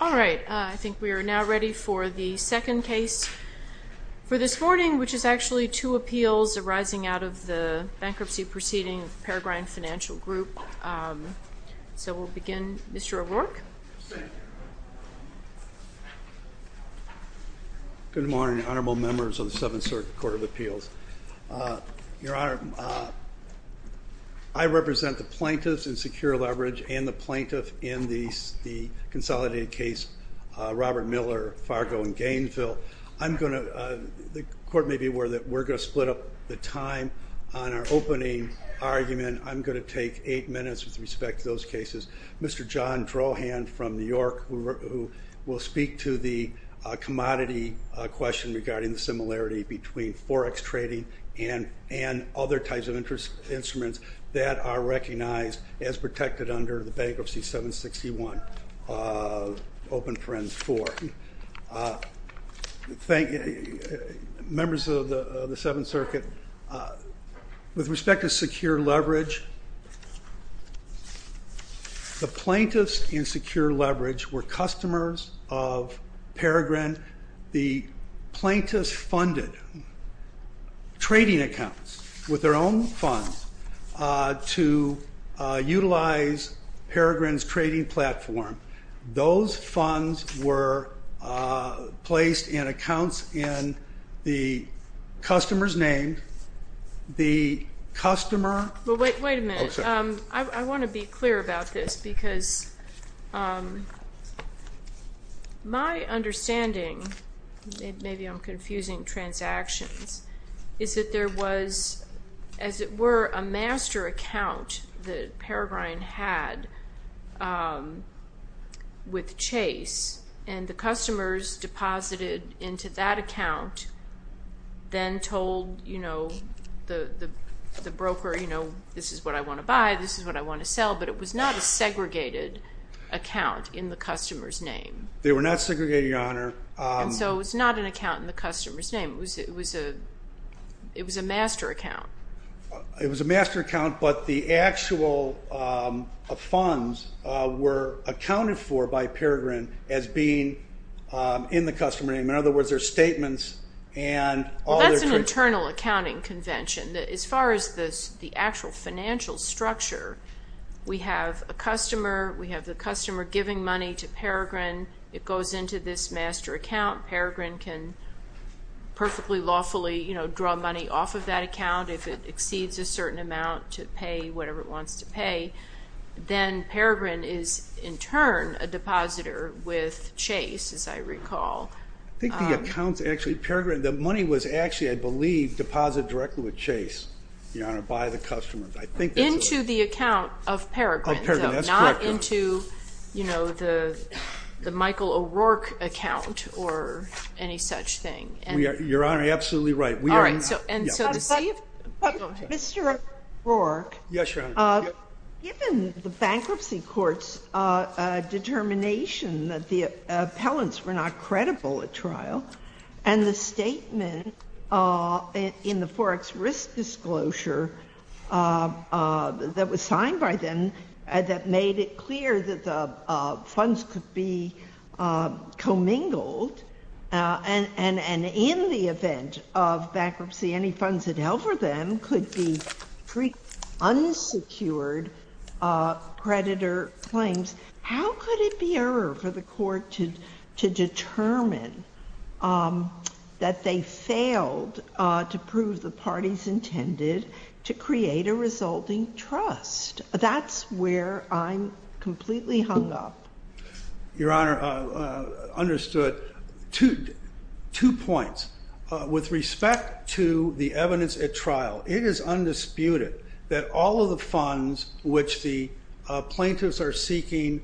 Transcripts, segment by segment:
All right, I think we are now ready for the second case for this morning, which is actually two appeals arising out of the bankruptcy proceeding of Peregrine Financial Group. So we'll begin. Mr. O'Rourke. Good morning, honorable members of the 7th Circuit Court of Appeals. Your Honor, I represent the plaintiffs in Secure Leverage and the plaintiff in the consolidated case, Robert Miller, Fargo and Gainesville. I'm going to, the court may be aware that we're going to split up the time on our opening argument. I'm going to take eight minutes with respect to those cases. Mr. John Drawhand from New York, who will speak to the commodity question regarding the similarity between Forex trading and other types of instruments that are recognized as protected under the Bankruptcy 761 of Open Friends 4. Members of the 7th Circuit, with respect to Secure Leverage, the plaintiffs in Secure Leverage funded trading accounts with their own funds to utilize Peregrine's trading platform. Those funds were placed in accounts in the customer's name. The customer... Well, wait a minute. Oh, sorry. I want to be clear about this because my understanding, maybe I'm confusing transactions, is that there was, as it were, a master account that Peregrine had with Chase, and the customers deposited into that account, then told the broker, you know, this is what I want to buy, this is what I want to sell, but it was not a segregated account in the customer's name. They were not segregated, Your Honor. And so it was not an account in the customer's name. It was a master account. It was a master account, but the actual funds were accounted for by Peregrine as being in the customer's name. In other words, their statements and all their... Well, that's an internal accounting convention. As far as the actual financial structure, we have a customer, we have the customer giving money to Peregrine, it goes into this master account, Peregrine can perfectly lawfully, you know, draw money off of that account if it exceeds a certain amount to pay whatever it wants to pay, then Peregrine is in turn a depositor with Chase, as I recall. I think the accounts actually, Peregrine, the money was actually, I believe, deposited directly with Chase, Your Honor, by the customers. Into the account of Peregrine, so not into, you know, the Michael O'Rourke account or any such thing. Your Honor, you're absolutely right. All right. And so to see if... Mr. O'Rourke. Yes, Your Honor. Given the bankruptcy court's determination that the appellants were not credible at trial and the statement in the Forex Risk Disclosure that was signed by them that made it clear that the funds could be commingled and in the event of bankruptcy, any funds that help for them could be unsecured creditor claims, how could it be error for the court to determine that they failed to prove the parties intended to create a resulting trust? That's where I'm completely hung up. Your Honor, understood. Two points. With respect to the evidence at trial, it is undisputed that all of the funds which the plaintiffs are seeking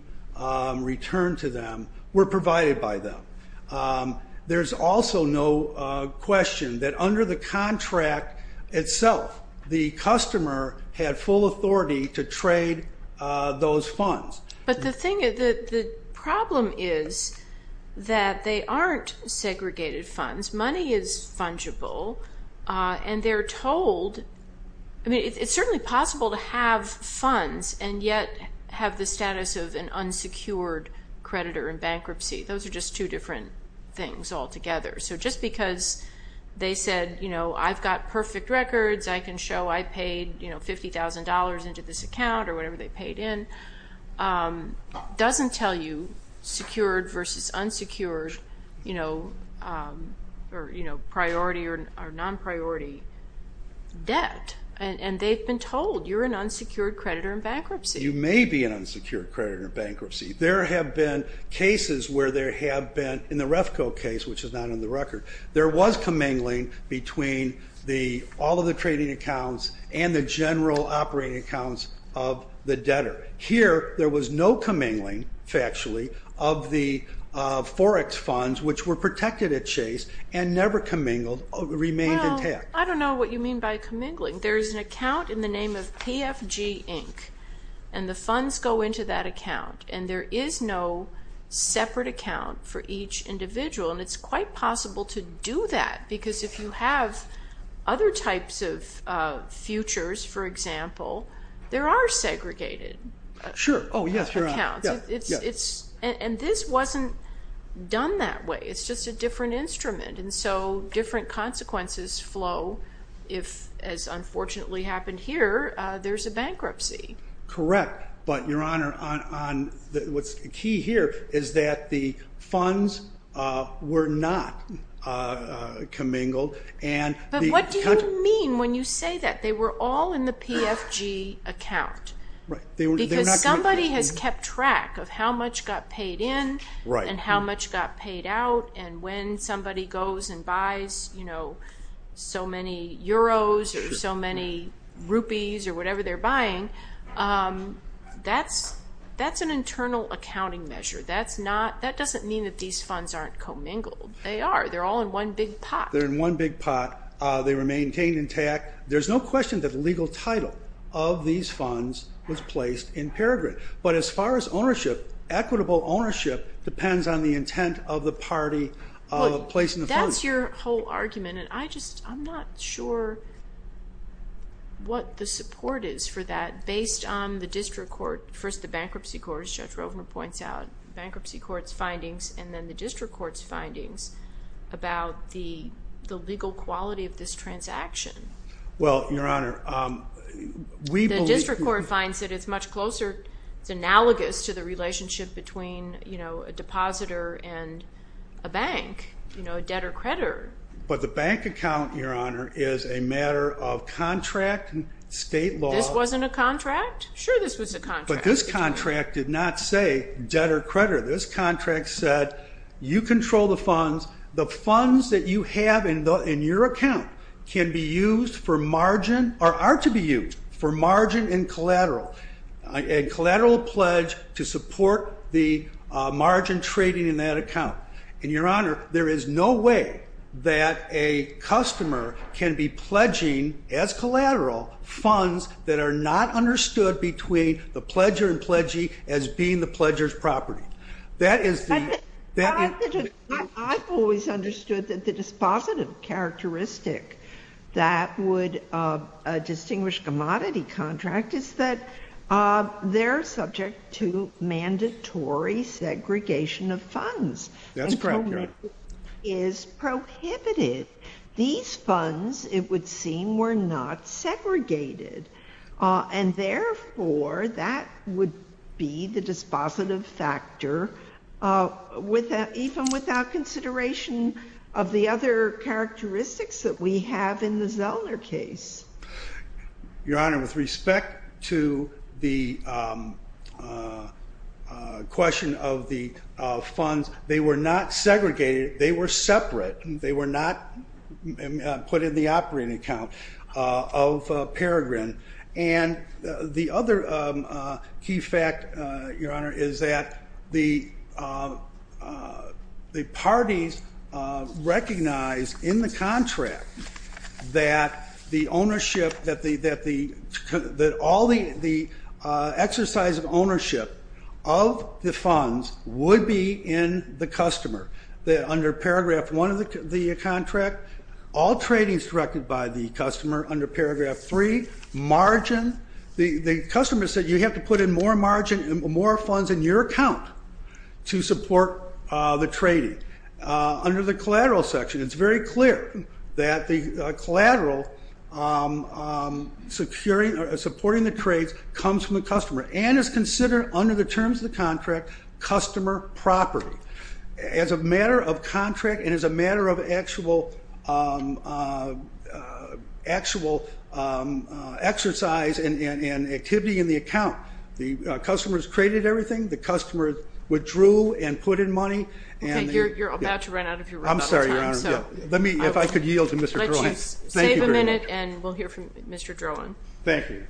returned to them were provided by them. There's also no question that under the contract itself, the customer had full authority to trade those funds. But the thing is, the problem is that they aren't segregated funds. Money is fungible and they're told, I mean, it's certainly possible to have funds and yet have the status of an unsecured creditor in bankruptcy. Those are just two different things altogether. Just because they said, I've got perfect records, I can show I paid $50,000 into this account or whatever they paid in, doesn't tell you secured versus unsecured priority or non-priority debt. They've been told, you're an unsecured creditor in bankruptcy. There have been cases where there have been, in the Refco case, which is not on the record, there was commingling between all of the trading accounts and the general operating accounts of the debtor. Here, there was no commingling, factually, of the Forex funds which were protected at Chase and never commingled, remained intact. I don't know what you mean by commingling. There's an account in the name of PFG Inc. and the funds go into that account and there is no separate account for each individual. It's quite possible to do that because if you have other types of futures, for example, there are segregated accounts. This wasn't done that way. It's just a different instrument. Different consequences flow if, as unfortunately happened here, there's a bankruptcy. Correct. Your Honor, what's key here is that the funds were not commingled. What do you mean when you say that? They were all in the PFG account because somebody has kept track of how much got paid in and how much got paid out and when somebody goes and buys so many euros or so many rupees or whatever they're buying, that's an internal accounting measure. That doesn't mean that these funds aren't commingled. They are. They're all in one big pot. They're in one big pot. They remained intact. There's no question that the legal title of these funds was placed in Peregrine. As far as ownership, equitable ownership depends on the intent of the party placing the funds. That's your whole argument. I'm not sure what the support is for that based on the district court, first the bankruptcy court, as Judge Rovner points out, bankruptcy court's findings and then the district court's findings about the legal quality of this transaction. The district court finds that it's much closer, it's analogous to the relationship between a depositor and a bank, a debtor-creditor. But the bank account, Your Honor, is a matter of contract and state law. This wasn't a contract? Sure, this was a contract. But this contract did not say debtor-creditor. This contract said you control the funds, the funds that you have in your account can be used for margin, or are to be used for margin in collateral, a collateral pledge to support the margin trading in that account. And, Your Honor, there is no way that a customer can be pledging as collateral funds that are not understood between the pledger and pledgee as being the pledger's property. That is the, that is the. I've always understood that the dispositive characteristic that would distinguish a commodity contract is that they're subject to mandatory segregation of funds. That's correct, Your Honor. Is prohibited. These funds, it would seem, were not segregated. And therefore, that would be the dispositive factor, even without consideration of the other characteristics that we have in the Zellner case. Your Honor, with respect to the question of the funds, they were not segregated. They were separate. They were not put in the operating account of Peregrin. And the other key fact, Your Honor, is that the parties recognized in the contract that the ownership, that all the exercise of ownership of the funds would be in the customer. That under paragraph one of the contract, all trading is directed by the customer. Under paragraph three, margin, the customer said you have to put in more margin and more funds in your account to support the trading. Under the collateral section, it's very clear that the collateral securing or supporting the trades comes from the customer and is considered under the terms of the contract, customer property. As a matter of contract, and as a matter of actual exercise and activity in the account, the customer's traded everything, the customer withdrew and put in money, and- Okay, you're about to run out of your rebuttal time, so- I'm sorry, Your Honor. Let me, if I could yield to Mr. Drohan. I'll let you save a minute, and we'll hear from Mr. Drohan. Thank you.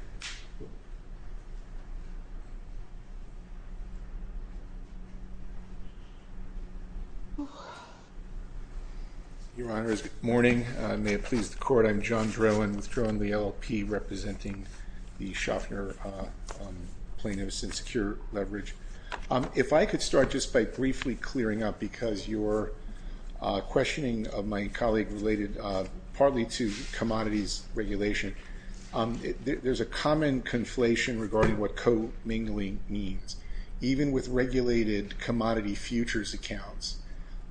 Your Honor, good morning. May it please the court, I'm John Drohan with Drohan LLP, representing the Schaffner Plain and Secure Leverage. If I could start just by briefly clearing up, because your questioning of my colleague related partly to commodities regulation. There's a common conflation regarding what co-mingling means. Even with regulated commodity futures accounts,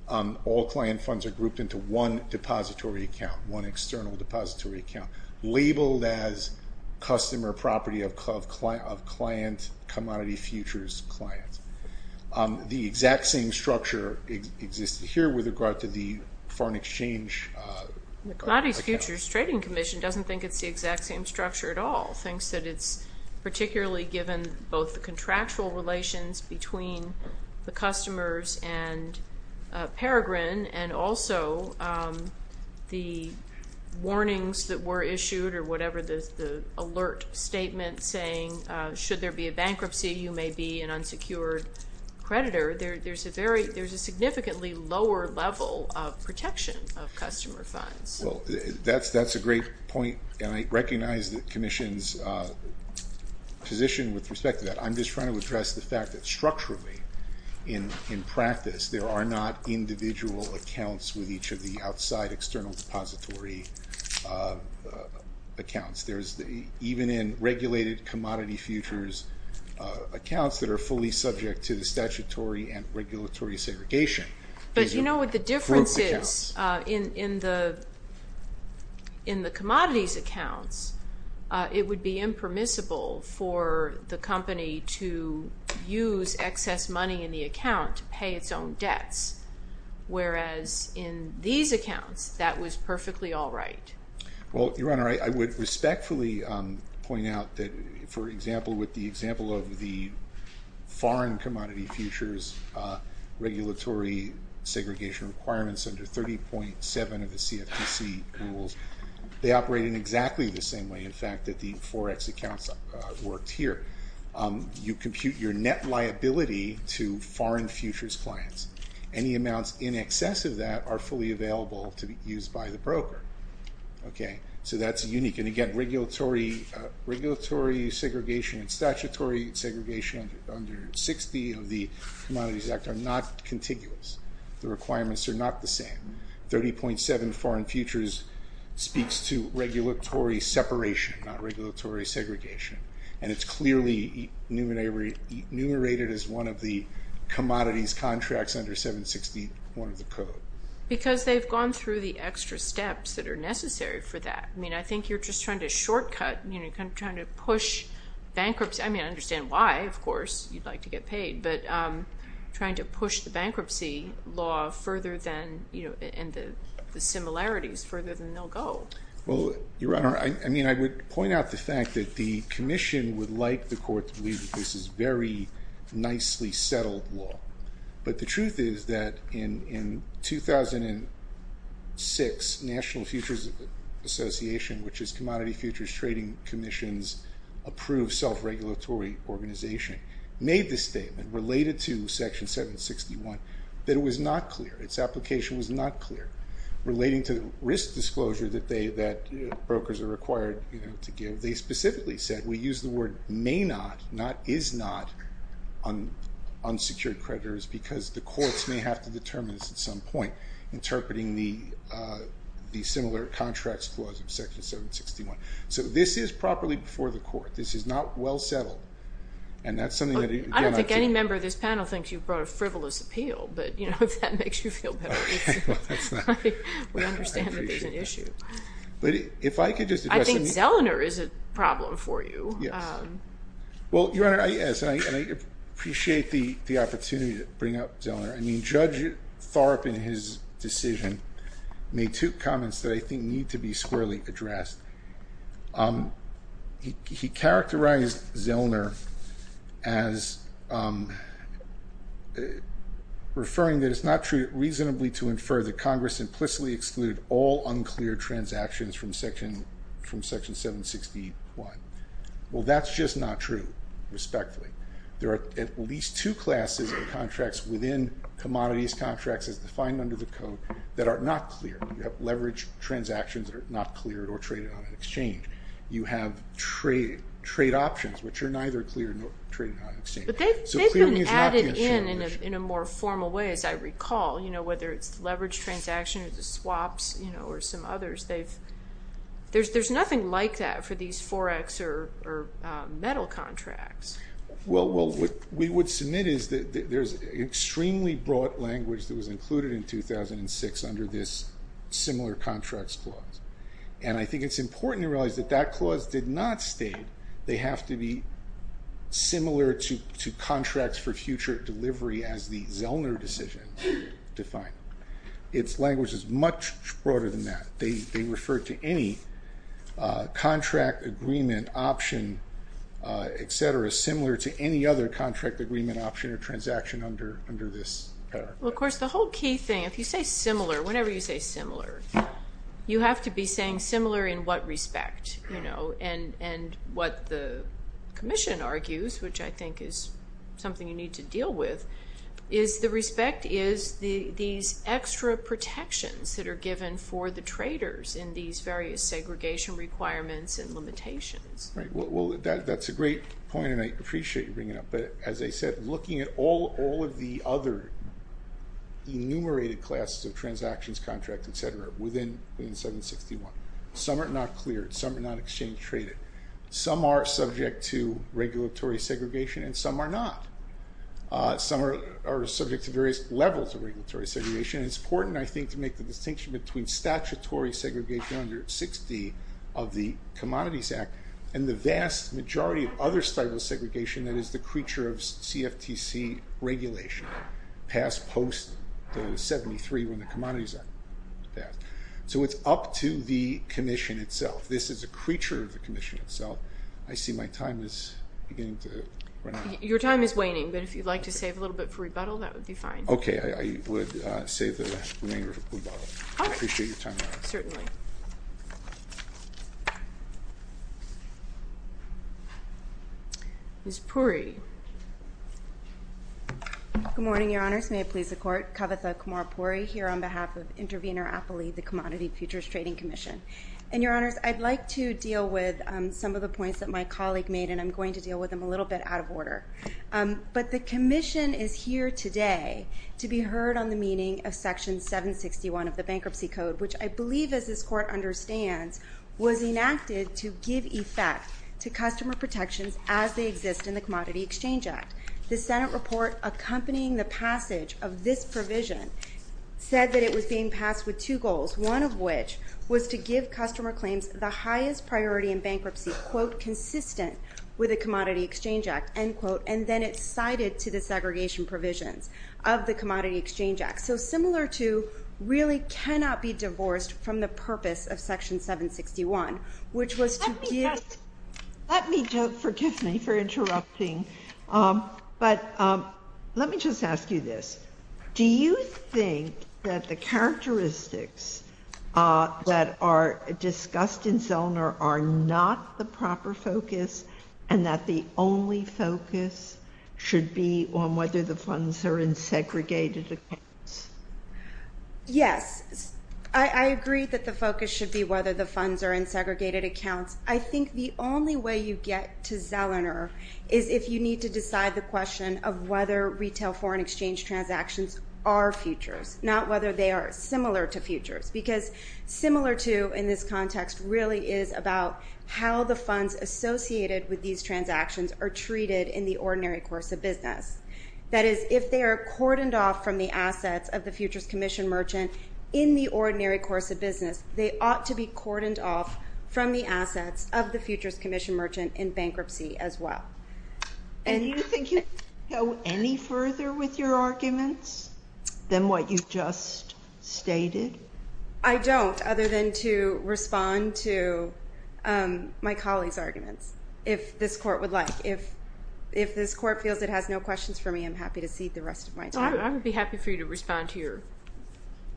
all client funds are grouped into one depository account, one external depository account, labeled as customer property of client, commodity futures client. The exact same structure exists here with regard to the foreign exchange- The Commodity Futures Trading Commission doesn't think it's the exact same structure at all, thinks that it's particularly given both the contractual relations between the customers and Peregrine, and also the warnings that were issued, or whatever the alert statement saying, should there be a bankruptcy, you may be an unsecured creditor. There's a significantly lower level of protection of customer funds. Well, that's a great point, and I recognize the Commission's position with respect to that. I'm just trying to address the fact that structurally, in practice, there are not individual accounts with each of the outside external depository accounts. There's even in regulated commodity futures accounts that are fully subject to the statutory and regulatory segregation. But you know what the difference is? In the commodities accounts, it would be impermissible for the company to use excess money in the account to pay its own debts, whereas in these accounts, that was perfectly all right. Well, Your Honor, I would respectfully point out that, for example, with the example of the foreign commodity futures regulatory segregation requirements under 30.7 of the CFTC rules, they operate in exactly the same way, in fact, that the Forex accounts worked here. You compute your net liability to foreign futures clients. Any amounts in excess of that are fully available to be used by the broker, okay? So that's unique, and again, regulatory segregation and statutory segregation under 60 of the Commodities Act are not contiguous. The requirements are not the same. 30.7 foreign futures speaks to regulatory separation, not regulatory segregation, and it's clearly enumerated as one of the commodities contracts under 761 of the code. Because they've gone through the extra steps that are necessary for that. I mean, I think you're just trying to shortcut, you know, you're kind of trying to push bankruptcy. I mean, I understand why, of course, you'd like to get paid, but trying to push the bankruptcy law further than, you know, and the similarities further than they'll go. Well, Your Honor, I mean, I would point out the fact that the commission would like the court to believe that this is very nicely settled law. But the truth is that in 2006, National Futures Association, which is Commodity Futures Trading Commission's approved self-regulatory organization, made this statement related to Section 761 that it was not clear. Its application was not clear. Relating to risk disclosure that brokers are required to give, they specifically said, we use the word may not, not is not, on secured creditors because the courts may have to determine this at some point. Interpreting the similar contracts clause of Section 761. So this is properly before the court. This is not well settled. And that's something that again, I think. I don't think any member of this panel thinks you brought a frivolous appeal. But, you know, if that makes you feel better, we understand that there's an issue. But if I could just address. I think Zellner is a problem for you. Yes. Well, Your Honor, I appreciate the opportunity to bring up Zellner. I mean, Judge Thorpe in his decision made two comments that I think need to be squarely addressed. He characterized Zellner as referring that it's not true reasonably to infer that Congress implicitly excluded all unclear transactions from Section 761. Well, that's just not true, respectfully. There are at least two classes of contracts within commodities contracts as defined under the code that are not clear. You have leverage transactions that are not cleared or traded on an exchange. You have trade options, which are neither cleared nor traded on an exchange. But they've been added in in a more formal way, as I recall. You know, whether it's leverage transactions, swaps, you know, or some others. There's nothing like that for these forex or metal contracts. Well, what we would submit is that there's extremely broad language that was included in 2006 under this similar contracts clause. And I think it's important to realize that that clause did not state they have to be similar to contracts for future delivery as the Zellner decision defined. Its language is much broader than that. They refer to any contract agreement option, et cetera, similar to any other contract agreement option or transaction under this paragraph. Well, of course, the whole key thing, if you say similar, whenever you say similar, you have to be saying similar in what respect, you know. And what the commission argues, which I think is something you need to deal with, is the respect is these extra protections that are given for the traders in these various segregation requirements and limitations. Right. Well, that's a great point, and I appreciate you bringing it up. But as I said, looking at all of the other enumerated classes of transactions, contracts, et cetera, within 761, some are not cleared. Some are not exchange traded. Some are subject to regulatory segregation, and some are not. Some are subject to various levels of regulatory segregation. It's important, I think, to make the distinction between statutory segregation under 60 of the Commodities Act and the vast majority of other styles of segregation that is the creature of CFTC regulation. Passed post the 73 when the Commodities Act was passed. So it's up to the commission itself. This is a creature of the commission itself. I see my time is beginning to run out. Your time is waning, but if you'd like to save a little bit for rebuttal, that would be fine. Okay. I would save the remainder for rebuttal. I appreciate your time. Certainly. Thank you. Ms. Puri. Good morning, your honors. May it please the court. Kavitha Kumar Puri here on behalf of Intervenor Appley, the Commodity Futures Trading Commission. And your honors, I'd like to deal with some of the points that my colleague made, and I'm going to deal with them a little bit out of order. But the commission is here today to be heard on the meaning of Section 761 of the Bankruptcy Code, which I believe, as this court understands, was enacted to give effect to customer protections as they exist in the Commodity Exchange Act. The Senate report accompanying the passage of this provision said that it was being passed with two goals, one of which was to give customer claims the highest priority in bankruptcy, quote, consistent with the Commodity Exchange Act, end quote. And then it's cited to the segregation provisions of the Commodity Exchange Act. So similar to really cannot be divorced from the purpose of Section 761, which was to give. Let me just, forgive me for interrupting, but let me just ask you this. Do you think that the characteristics that are discussed in Zellner are not the proper focus and that the only focus should be on whether the funds are in segregated accounts? Yes. I agree that the focus should be whether the funds are in segregated accounts. I think the only way you get to Zellner is if you need to decide the question of whether retail foreign exchange transactions are futures, not whether they are similar to futures. Because similar to in this context really is about how the funds associated with these transactions are treated in the ordinary course of business. That is, if they are cordoned off from the assets of the Futures Commission merchant in the ordinary course of business, they ought to be cordoned off from the assets of the Futures Commission merchant in bankruptcy as well. And you think you can go any further with your arguments than what you just stated? I don't, other than to respond to my colleague's arguments, if this court would like. If this court feels it has no questions for me, I'm happy to cede the rest of my time. I would be happy for you to respond to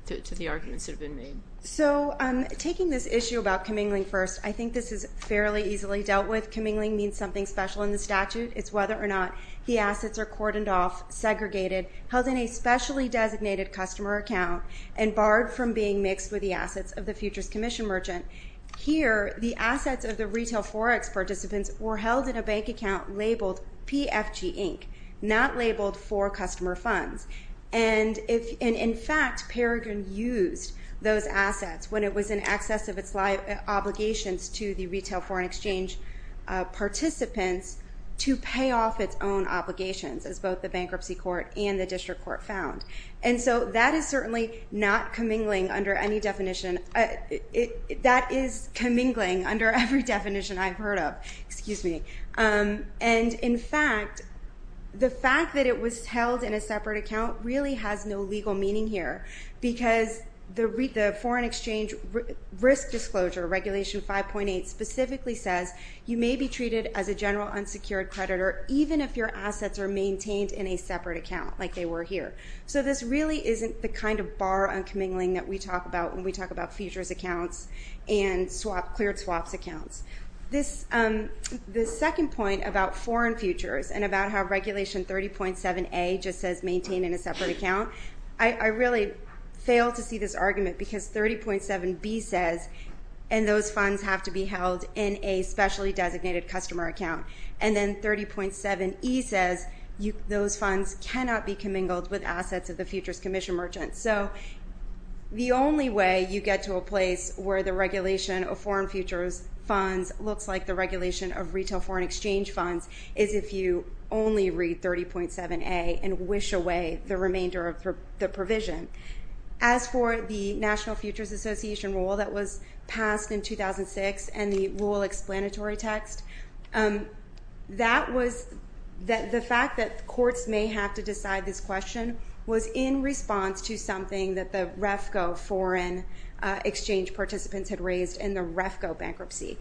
the arguments that have been made. So taking this issue about commingling first, I think this is fairly easily dealt with. Commingling means something special in the statute. It's whether or not the assets are cordoned off, segregated, held in a specially designated customer account, and barred from being mixed with the assets of the Futures Commission merchant. Here, the assets of the Retail Forex participants were held in a bank account labeled PFG Inc., not labeled for customer funds. And in fact, Peregrine used those assets when it was in excess of its obligations to the Retail Foreign Exchange participants to pay off its own obligations, as both the Bankruptcy Court and the District Court found. And so that is certainly not commingling under any definition. That is commingling under every definition I've heard of, excuse me. And in fact, the fact that it was held in a separate account really has no legal meaning here because the Foreign Exchange Risk Disclosure, Regulation 5.8, specifically says you may be treated as a general unsecured creditor even if your assets are maintained in a separate account, like they were here. So this really isn't the kind of bar on commingling that we talk about when we talk about futures accounts and cleared swaps accounts. The second point about foreign futures and about how Regulation 30.7a just says maintained in a separate account, I really fail to see this argument because 30.7b says and those funds have to be held in a specially designated customer account. And then 30.7e says those funds cannot be commingled with assets of the Futures Commission merchants. So the only way you get to a place where the regulation of foreign futures funds looks like the regulation of Retail Foreign Exchange funds is if you only read 30.7a and wish away the remainder of the provision. As for the National Futures Association rule that was passed in 2006 and the rule explanatory text, the fact that courts may have to decide this question was in response to something that the REFCO foreign exchange participants had raised in the REFCO bankruptcy.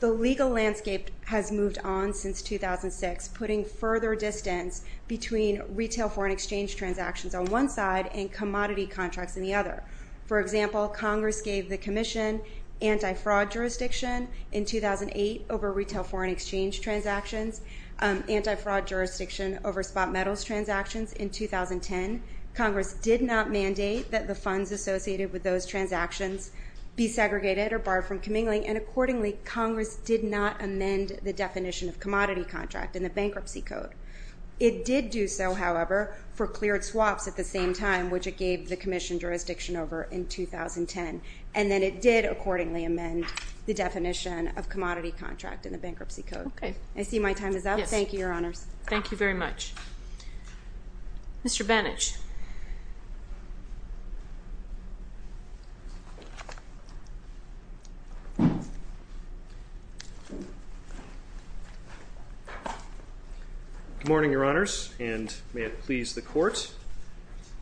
The legal landscape has moved on since 2006, putting further distance between Retail Foreign Exchange transactions on one side and commodity contracts on the other. For example, Congress gave the Commission anti-fraud jurisdiction in 2008 over Retail Foreign Exchange transactions, anti-fraud jurisdiction over spot metals transactions in 2010. Congress did not mandate that the funds associated with those transactions be segregated or barred from commingling. And accordingly, Congress did not amend the definition of commodity contract in the bankruptcy code. It did do so, however, for cleared swaps at the same time, which it gave the Commission jurisdiction over in 2010. And then it did accordingly amend the definition of commodity contract in the bankruptcy code. Okay. I see my time is up. Yes. Thank you, Your Honors. Thank you very much. Mr. Bannich. Good morning, Your Honors, and may it please the Court.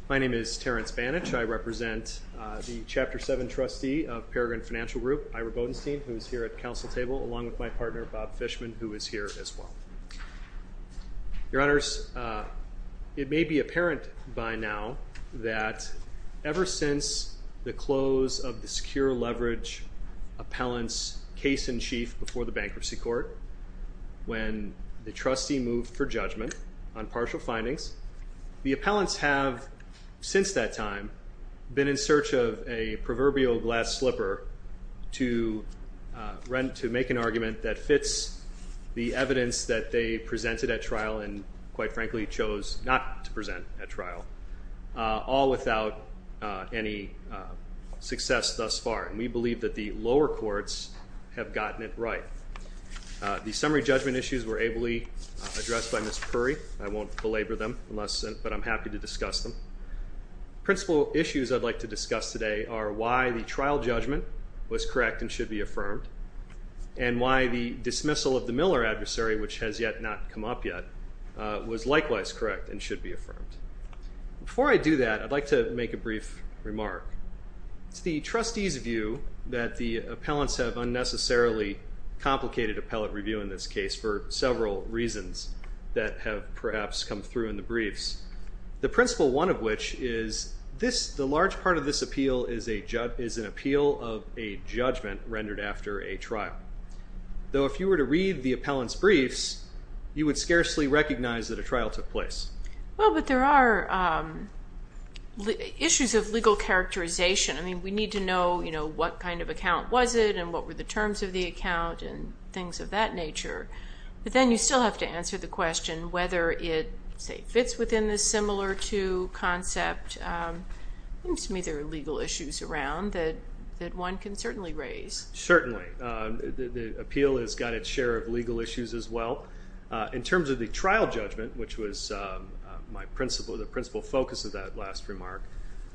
My name is Terrence Bannich. I represent the Chapter 7 trustee of Peregrine Financial Group, Ira Bodenstein, who is here at Council Table, along with my partner, Bob Fishman, who is here as well. Your Honors, it may be apparent by now that ever since the close of the Secure Leverage Appellant's case-in-chief before the bankruptcy court, when the trustee moved for judgment on partial findings, the appellants have, since that time, been in search of a proverbial glass slipper to make an argument that fits the evidence that they presented at trial and, quite frankly, chose not to present at trial, all without any success thus far. And we believe that the lower courts have gotten it right. The summary judgment issues were ably addressed by Ms. Puri. I won't belabor them, but I'm happy to discuss them. Principal issues I'd like to discuss today are why the trial judgment was correct and should be affirmed, and why the dismissal of the Miller adversary, which has yet not come up yet, was likewise correct and should be affirmed. Before I do that, I'd like to make a brief remark. It's the trustee's view that the appellants have unnecessarily complicated appellate review in this case for several reasons that have perhaps come through in the briefs, the principal one of which is the large part of this appeal is an appeal of a judgment rendered after a trial. Though if you were to read the appellants' briefs, you would scarcely recognize that a trial took place. Well, but there are issues of legal characterization. I mean, we need to know, you know, what kind of account was it, and what were the terms of the account, and things of that nature. But then you still have to answer the question whether it, say, fits within the similar to concept. It seems to me there are legal issues around that one can certainly raise. Certainly. The appeal has got its share of legal issues as well. In terms of the trial judgment, which was my principle, the principal focus of that last remark,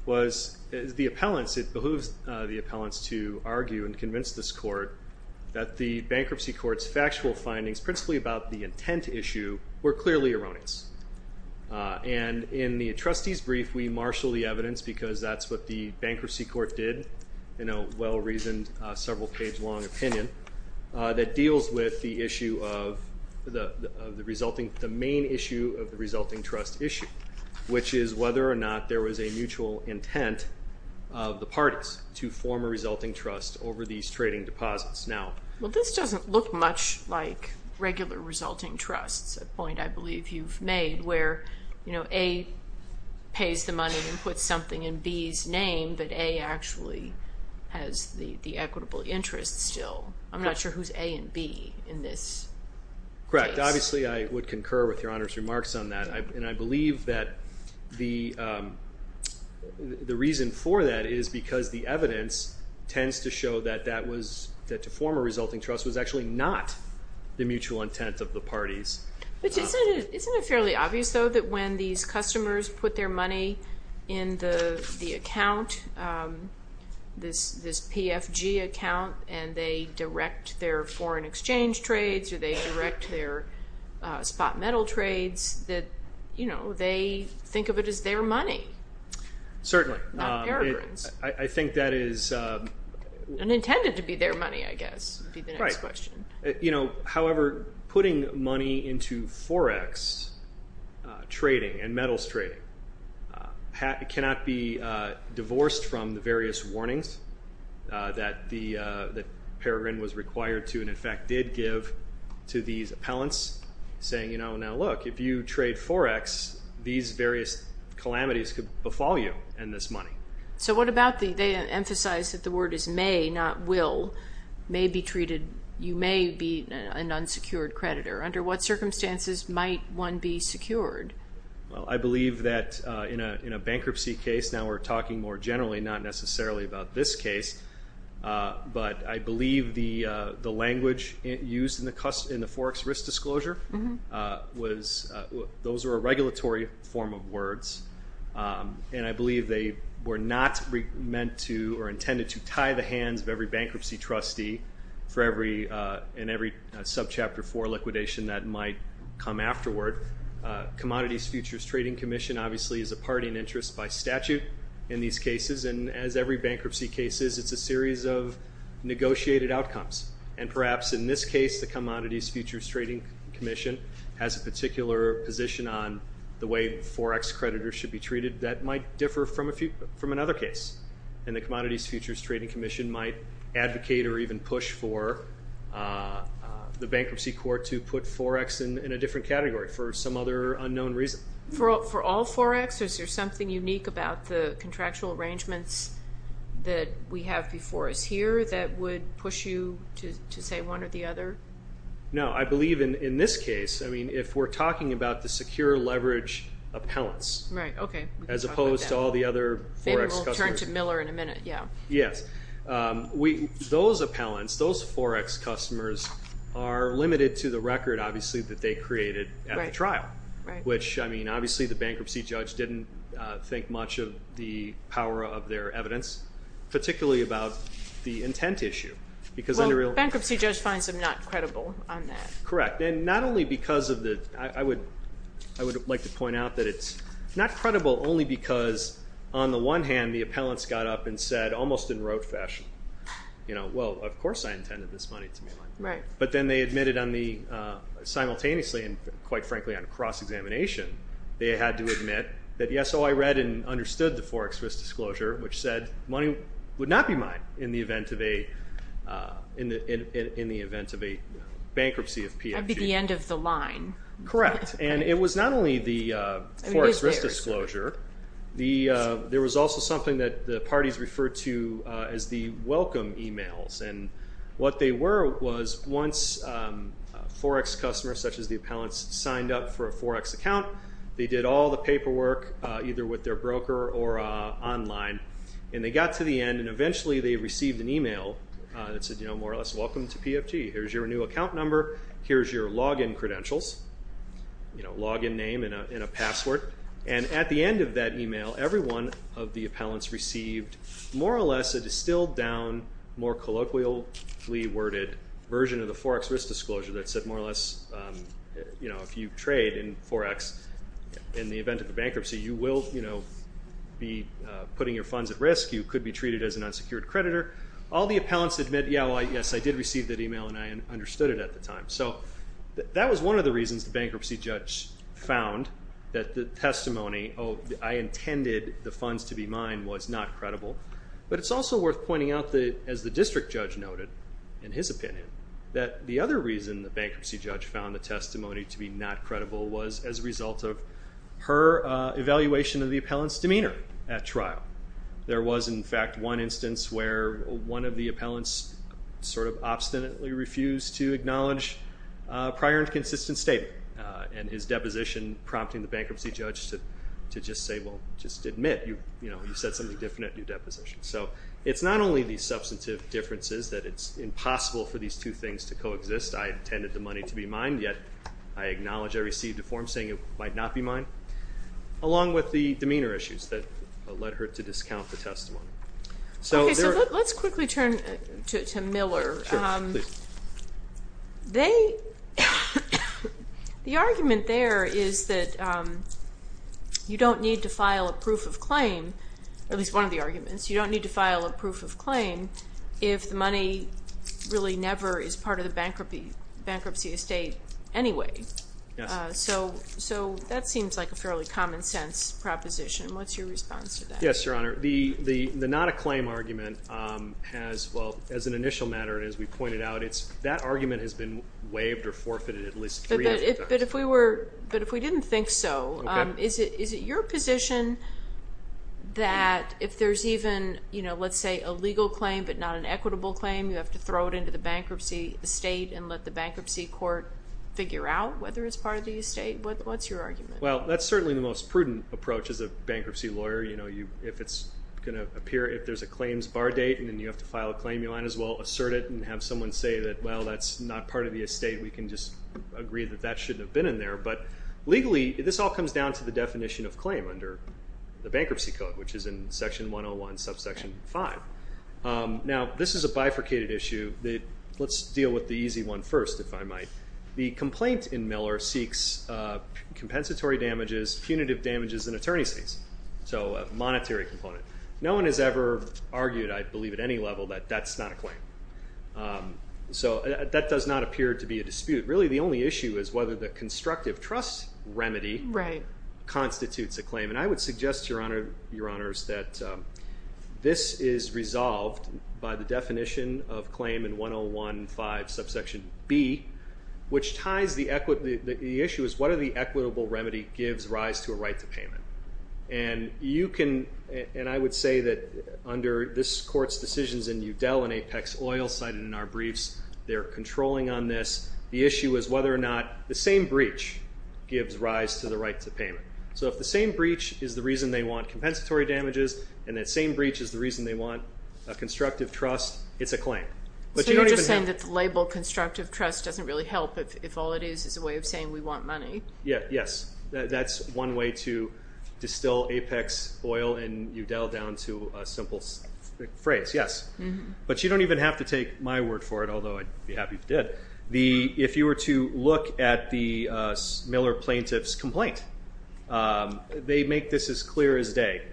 was the appellants, it behooves the appellants to argue and convince this court that the bankruptcy court's factual findings, principally about the intent issue, were clearly erroneous. And in the trustee's brief, we marshal the evidence because that's what the bankruptcy court did in a well-reasoned, several page long opinion that deals with the issue of the resulting, the main issue of the resulting trust issue, which is whether or not there was a mutual intent of the parties to form a resulting trust over these trading deposits now. Well, this doesn't look much like regular resulting trusts, a point I believe you've made, where, you know, A pays the money and puts something in B's name, but A actually has the equitable interest still. I'm not sure who's A and B in this case. Correct. Obviously, I would concur with Your Honor's remarks on that, and I believe that the reason for that is because the evidence tends to show that that was, that to form a resulting trust was actually not the mutual intent of the parties. But isn't it fairly obvious, though, that when these customers put their money in the account, this PFG account, and they direct their foreign exchange trades, or they direct their spot metal trades, that, you know, they think of it as their money. Certainly. Not their earnings. I think that is. And intended to be their money, I guess, would be the next question. Right. You know, however, putting money into forex trading and metals trading cannot be divorced from the various warnings that Peregrine was required to, and in fact did give to these appellants, saying, you know, now look, if you trade forex, these various calamities could befall you and this money. So what about the, they emphasize that the word is may, not will, may be treated, you may be an unsecured creditor. Under what circumstances might one be secured? Well, I believe that in a bankruptcy case, now we're talking more generally, not necessarily about this case, but I believe the language used in the forex risk disclosure was, those were a regulatory form of words, and I believe they were not meant to, or intended to tie the hands of every bankruptcy trustee for every, in every subchapter four liquidation that might come afterward. Commodities Futures Trading Commission obviously is a party in interest by statute in these cases, and as every bankruptcy case is, it's a series of negotiated outcomes, and perhaps in this case, the Commodities Futures Trading Commission has a particular position on the way forex creditors should be treated that might differ from another case, and the Commodities Futures Trading Commission might advocate or even push for the bankruptcy court to put forex in a different category for some other unknown reason. For all forex, is there something unique about the contractual arrangements that we have before us here that would push you to say one or the other? No, I believe in this case, I mean, if we're talking about the secure leverage appellants. Right, okay. As opposed to all the other forex customers. Maybe we'll turn to Miller in a minute, yeah. Yes, those appellants, those forex customers are limited to the record, obviously, that they created at the trial, which, I mean, obviously, the bankruptcy judge didn't think much of the power of their evidence, particularly about the intent issue, because under real- Bankruptcy judge finds them not credible on that. Correct, and not only because of the, I would like to point out that it's not credible only because on the one hand, the appellants got up and said, almost in rote fashion, you know, well, of course I intended this money to be mine. Right. But then they admitted on the, simultaneously, and quite frankly on cross-examination, they had to admit that, yes, oh, I read and understood the forex risk disclosure, which said money would not be mine in the event of a, in the event of a bankruptcy of PFG. That'd be the end of the line. Correct, and it was not only the forex risk disclosure. The, there was also something that the parties referred to as the welcome emails, and what they were was once forex customers, such as the appellants, signed up for a forex account, they did all the paperwork, either with their broker or online, and they got to the end, and eventually they received an email that said, you know, more or less, welcome to PFG. Here's your new account number. Here's your login credentials, you know, login name and a password, and at the end of that email, every one of the appellants received, more or less, a distilled down, more colloquially worded version of the forex risk disclosure that said, more or less, you know, if you trade in forex in the event of a bankruptcy, you will, you know, be putting your funds at risk. You could be treated as an unsecured creditor. All the appellants admit, yeah, well, yes, I did receive that email, and I understood it at the time. So that was one of the reasons the bankruptcy judge found that the testimony, oh, I intended the funds to be mine, was not credible. But it's also worth pointing out that, as the district judge noted, in his opinion, that the other reason the bankruptcy judge found the testimony to be not credible was as a result of her evaluation of the appellant's demeanor at trial. There was, in fact, one instance where one of the appellants sort of obstinately refused to acknowledge a prior and consistent statement, and his deposition prompting the bankruptcy judge to just say, well, just admit. You know, you said something different at your deposition. So it's not only the substantive differences that it's impossible for these two things to coexist. I intended the money to be mine, yet I acknowledge I received a form saying it might not be mine, along with the demeanor issues that led her to discount the testimony. So there are. Okay. So let's quickly turn to Miller. Sure. Please. They, the argument there is that you don't need to file a proof of claim, at least one of the arguments, you don't need to file a proof of claim if the money really never is part of the bankruptcy estate anyway. Yes. So that seems like a fairly common sense proposition. What's your response to that? Yes, Your Honor. The not a claim argument has, well, as an initial matter, and as we pointed out, it's that argument has been waived or forfeited at least three times. But if we were, but if we didn't think so, is it your position that if there's even, you know, let's say a legal claim, but not an equitable claim, you have to throw it into the bankruptcy estate and let the bankruptcy court figure out whether it's part of the estate? What's your argument? Well, that's certainly the most prudent approach as a bankruptcy lawyer. You know, if it's going to appear, if there's a claims bar date and then you have to file a claim, you might as well assert it and have someone say that, well, that's not part of the estate. We can just agree that that shouldn't have been in there. But legally, this all comes down to the definition of claim under the bankruptcy code, which is in Section 101, Subsection 5. Now, this is a bifurcated issue that, let's deal with the easy one first, if I might. The complaint in Miller seeks compensatory damages, punitive damages, and attorney's fees. So, a monetary component. No one has ever argued, I believe, at any level that that's not a claim. So, that does not appear to be a dispute. Really, the only issue is whether the constructive trust remedy constitutes a claim. And I would suggest, Your Honor, Your Honors, that this is resolved by the definition of claim in 101.5, Subsection B, which ties the equity, the issue is, what are the equitable remedy gives rise to a right to payment? And you can, and I would say that under this court's decisions in Udell and Apex Oil, cited in our briefs, they're controlling on this. The issue is whether or not the same breach gives rise to the right to payment. So, if the same breach is the reason they want compensatory damages, and that same breach is the reason they want a constructive trust, it's a claim. But you don't even have to- So, you're just saying that the label constructive trust doesn't really help if all it is is a way of saying we want money? Yeah, yes. That's one way to distill Apex Oil in Udell down to a simple phrase, yes. But you don't even have to take my word for it, although I'd be happy if you did. The, if you were to look at the Miller plaintiff's complaint, they make this as clear as day.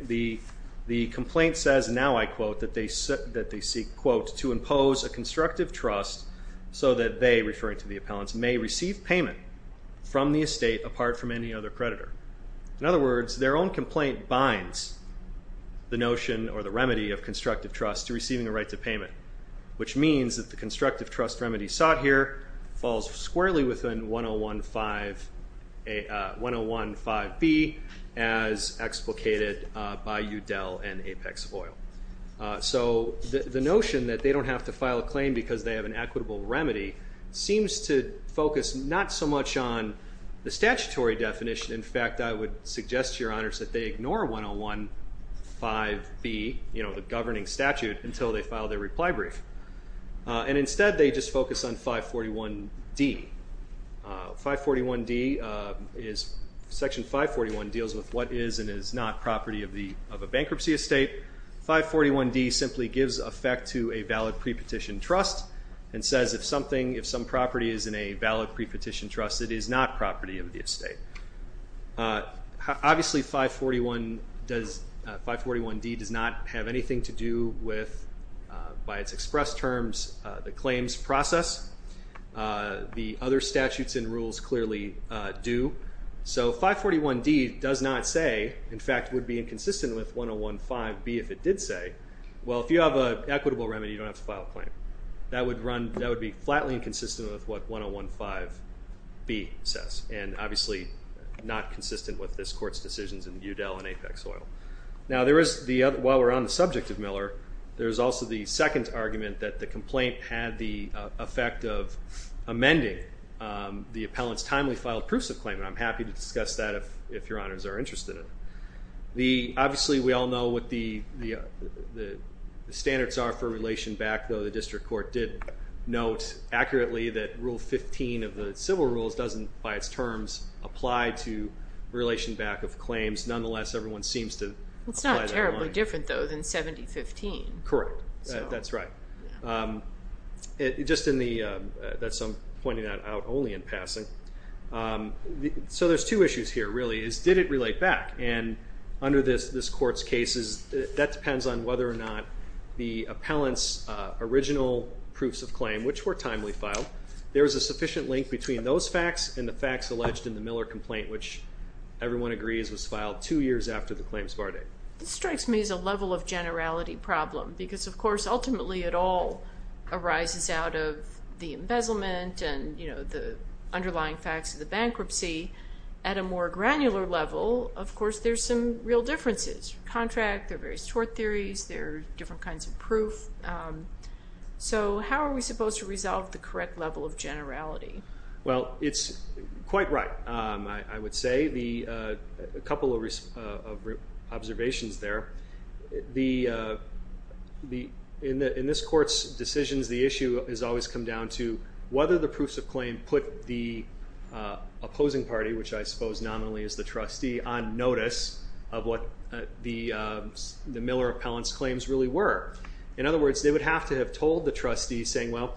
The complaint says, now I quote, that they seek, quote, to impose a constructive trust so that they, referring to the appellants, may receive payment from the estate apart from any other creditor. In other words, their own complaint binds the notion or the remedy of constructive trust to receiving a right to payment, which means that the constructive trust remedy sought here falls squarely within 101.5B as explicated by Udell and Apex Oil. So, the notion that they don't have to file a claim because they have an equitable remedy seems to focus not so much on the statutory definition. In fact, I would suggest to your honors that they ignore 101.5B, you know, the governing statute, until they file their reply brief. And instead, they just focus on 541D. 541D is, Section 541 deals with what is and is not property of a bankruptcy estate. 541D simply gives effect to a valid pre-petition trust and says if something, if some property is in a valid pre-petition trust, it is not property of the estate. Obviously, 541 does, 541D does not have anything to do with, by its express terms, the claims process. The other statutes and rules clearly do. So, 541D does not say, in fact, would be inconsistent with 101.5B if it did say, well, if you have an equitable remedy, you don't have to file a claim. That would run, that would be flatly inconsistent with what 101.5B says. And obviously, not consistent with this court's decisions in Udell and Apex Oil. Now, there is the other, while we're on the subject of Miller, there's also the second argument that the complaint had the effect of amending the appellant's timely filed proofs of claim, and I'm happy to discuss that if your honors are interested in it. Obviously, we all know what the standards are for relation back, though the district court did note accurately that rule 15 of the civil rules doesn't, by its terms, apply to relation back of claims. Nonetheless, everyone seems to apply that in line. It's not terribly different, though, than 7015. Correct. That's right. Just in the, that's, I'm pointing that out only in passing. So there's two issues here, really, is did it relate back? And under this court's cases, that depends on whether or not the appellant's original proofs of claim, which were timely filed, there was a sufficient link between those facts and the facts alleged in the Miller complaint, which everyone agrees was filed two years after the claims bar date. This strikes me as a level of generality problem, because, of course, ultimately it all arises out of the embezzlement and, you know, the underlying facts of the bankruptcy. At a more granular level, of course, there's some real differences. Contract, there are various tort theories, there are different kinds of proof. So how are we supposed to resolve the correct level of generality? Well, it's quite right, I would say. The, a couple of observations there, the, in this court's decisions, the issue has always come down to whether the proofs of claim put the opposing party, which I suppose nominally is the trustee, on notice of what the Miller appellant's claims really were. In other words, they would have to have told the trustee, saying, well,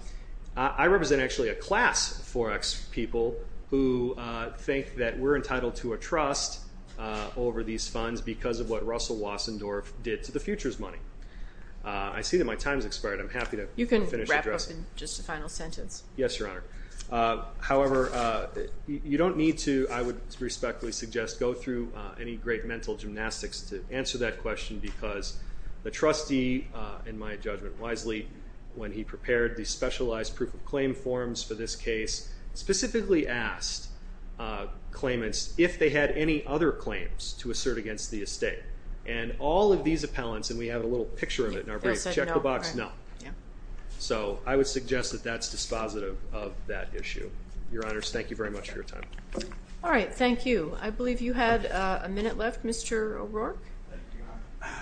I represent actually a class of 4X people who think that we're entitled to a trust over these funds because of what Russell Wassendorf did to the futures money. I see that my time's expired. I'm happy to finish addressing- You can wrap up in just a final sentence. Yes, Your Honor. However, you don't need to, I would respectfully suggest, go through any great mental gymnastics to answer that question, because the trustee, in my judgment wisely, when he prepared the specialized proof of claim forms for this case, specifically asked claimants if they had any other claims to assert against the estate. And all of these appellants, and we have a little picture of it in our brief, check the box, no. So, I would suggest that that's dispositive of that issue. Your Honors, thank you very much for your time. All right, thank you. I believe you had a minute left, Mr. O'Rourke. Thank you, Your Honor.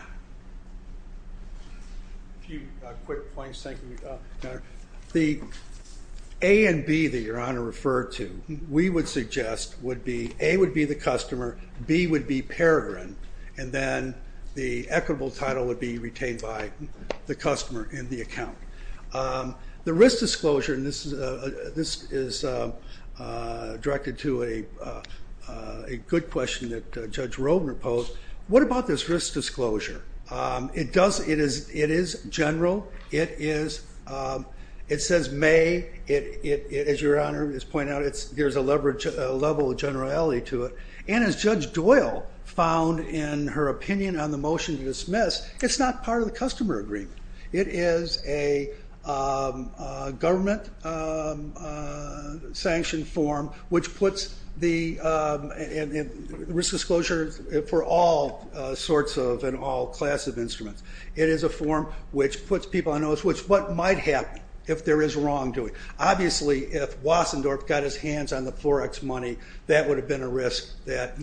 A few quick points, thank you, Your Honor. The A and B that Your Honor referred to, we would suggest would be, A would be the customer, B would be Peregrine, and then the equitable title would be retained by the customer in the account. The risk disclosure, and this is directed to a good question that Judge Robner posed, what about this risk disclosure? It does, it is general, it says may, as Your Honor is pointing out, there's a level of generality to it. And as Judge Doyle found in her opinion on the motion to dismiss, it's not part of the customer agreement. It is a government sanctioned form, which It is a form which puts people on notice, which what might happen if there is wrongdoing. Obviously, if Wassendorf got his hands on the Florex money, that would have been a risk that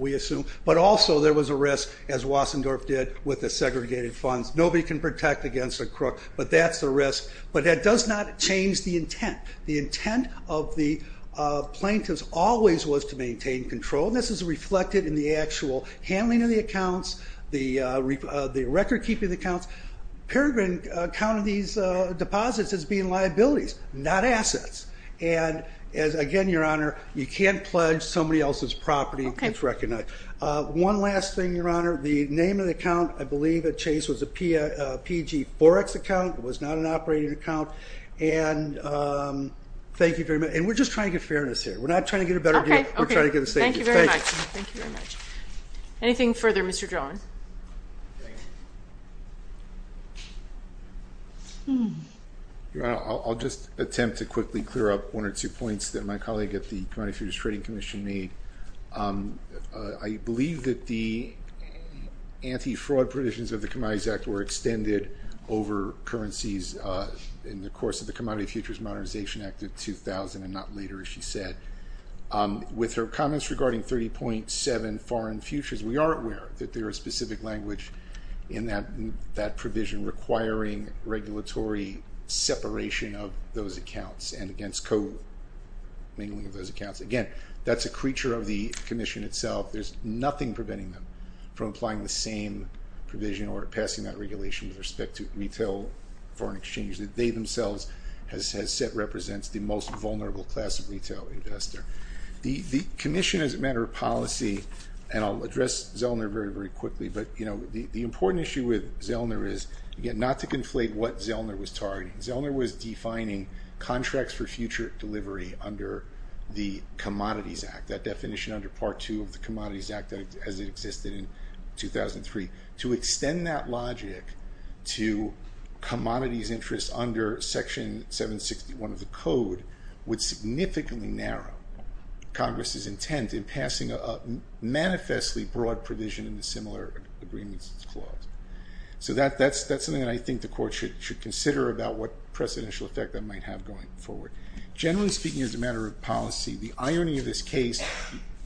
we assume. But also there was a risk, as Wassendorf did, with the segregated funds. Nobody can protect against a crook, but that's the risk. But that does not change the intent. The intent of the plaintiffs always was to maintain control. And this is reflected in the actual handling of the accounts, the record keeping of the accounts. Peregrine counted these deposits as being liabilities, not assets. And again, Your Honor, you can't pledge somebody else's property that's recognized. One last thing, Your Honor, the name of the account, I believe that Chase was a PG Forex account. It was not an operating account. And thank you very much. And we're just trying to get fairness here. We're not trying to get a better deal. We're trying to get a safety. Thank you very much. Thank you very much. Anything further, Mr. John? I'll just attempt to quickly clear up one or two points that my colleague at the Commodity Futures Trading Commission made. I believe that the anti-fraud provisions of the Commodities Act were extended over currencies in the course of the Commodity Futures Modernization Act of 2000, and not later, as she said. With her comments regarding 30.7 foreign futures, we are aware that there is specific language in that provision requiring regulatory separation of those accounts and against co-mingling of those accounts. Again, that's a creature of the commission itself. There's nothing preventing them from applying the same provision or passing that regulation with respect to retail foreign exchange that they themselves has said represents the most vulnerable class of retail investor. The commission, as a matter of policy, and I'll address Zellner very, very quickly. But the important issue with Zellner is, again, not to conflate what Zellner was targeting. Zellner was defining contracts for future delivery under the Commodities Act, that definition under part two of the Commodities Act as it existed in 2003. To extend that logic to commodities interests under section 761 of the code would significantly narrow Congress's intent in passing a manifestly broad provision in the similar agreements clause. So that's something that I think the court should consider about what precedential effect that might have going forward. Generally speaking, as a matter of policy, the irony of this case,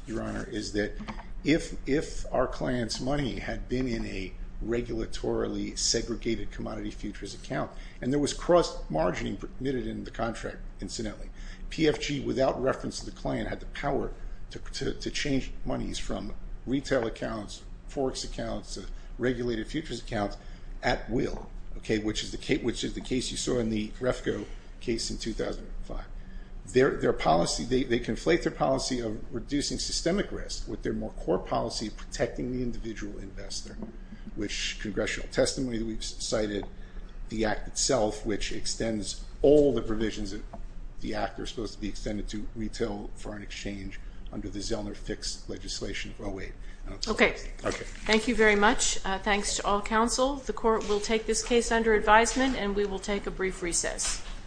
Your Honor, is that if our client's money had been in a regulatorily segregated commodity futures account, and there was cross-margining permitted in the contract, incidentally. PFG, without reference to the client, had the power to change monies from retail accounts, forex accounts, to regulated futures accounts at will, which is the case you saw in the Refco case in 2005. Their policy, they conflate their policy of reducing systemic risk with their more core policy of protecting the individual investor, which congressional testimony that we've cited the act itself, which extends all the provisions that the act are supposed to be extended to retail foreign exchange under the Zellner fixed legislation of 08. OK. Thank you very much. Thanks to all counsel. The court will take this case under advisement, and we will take a brief recess.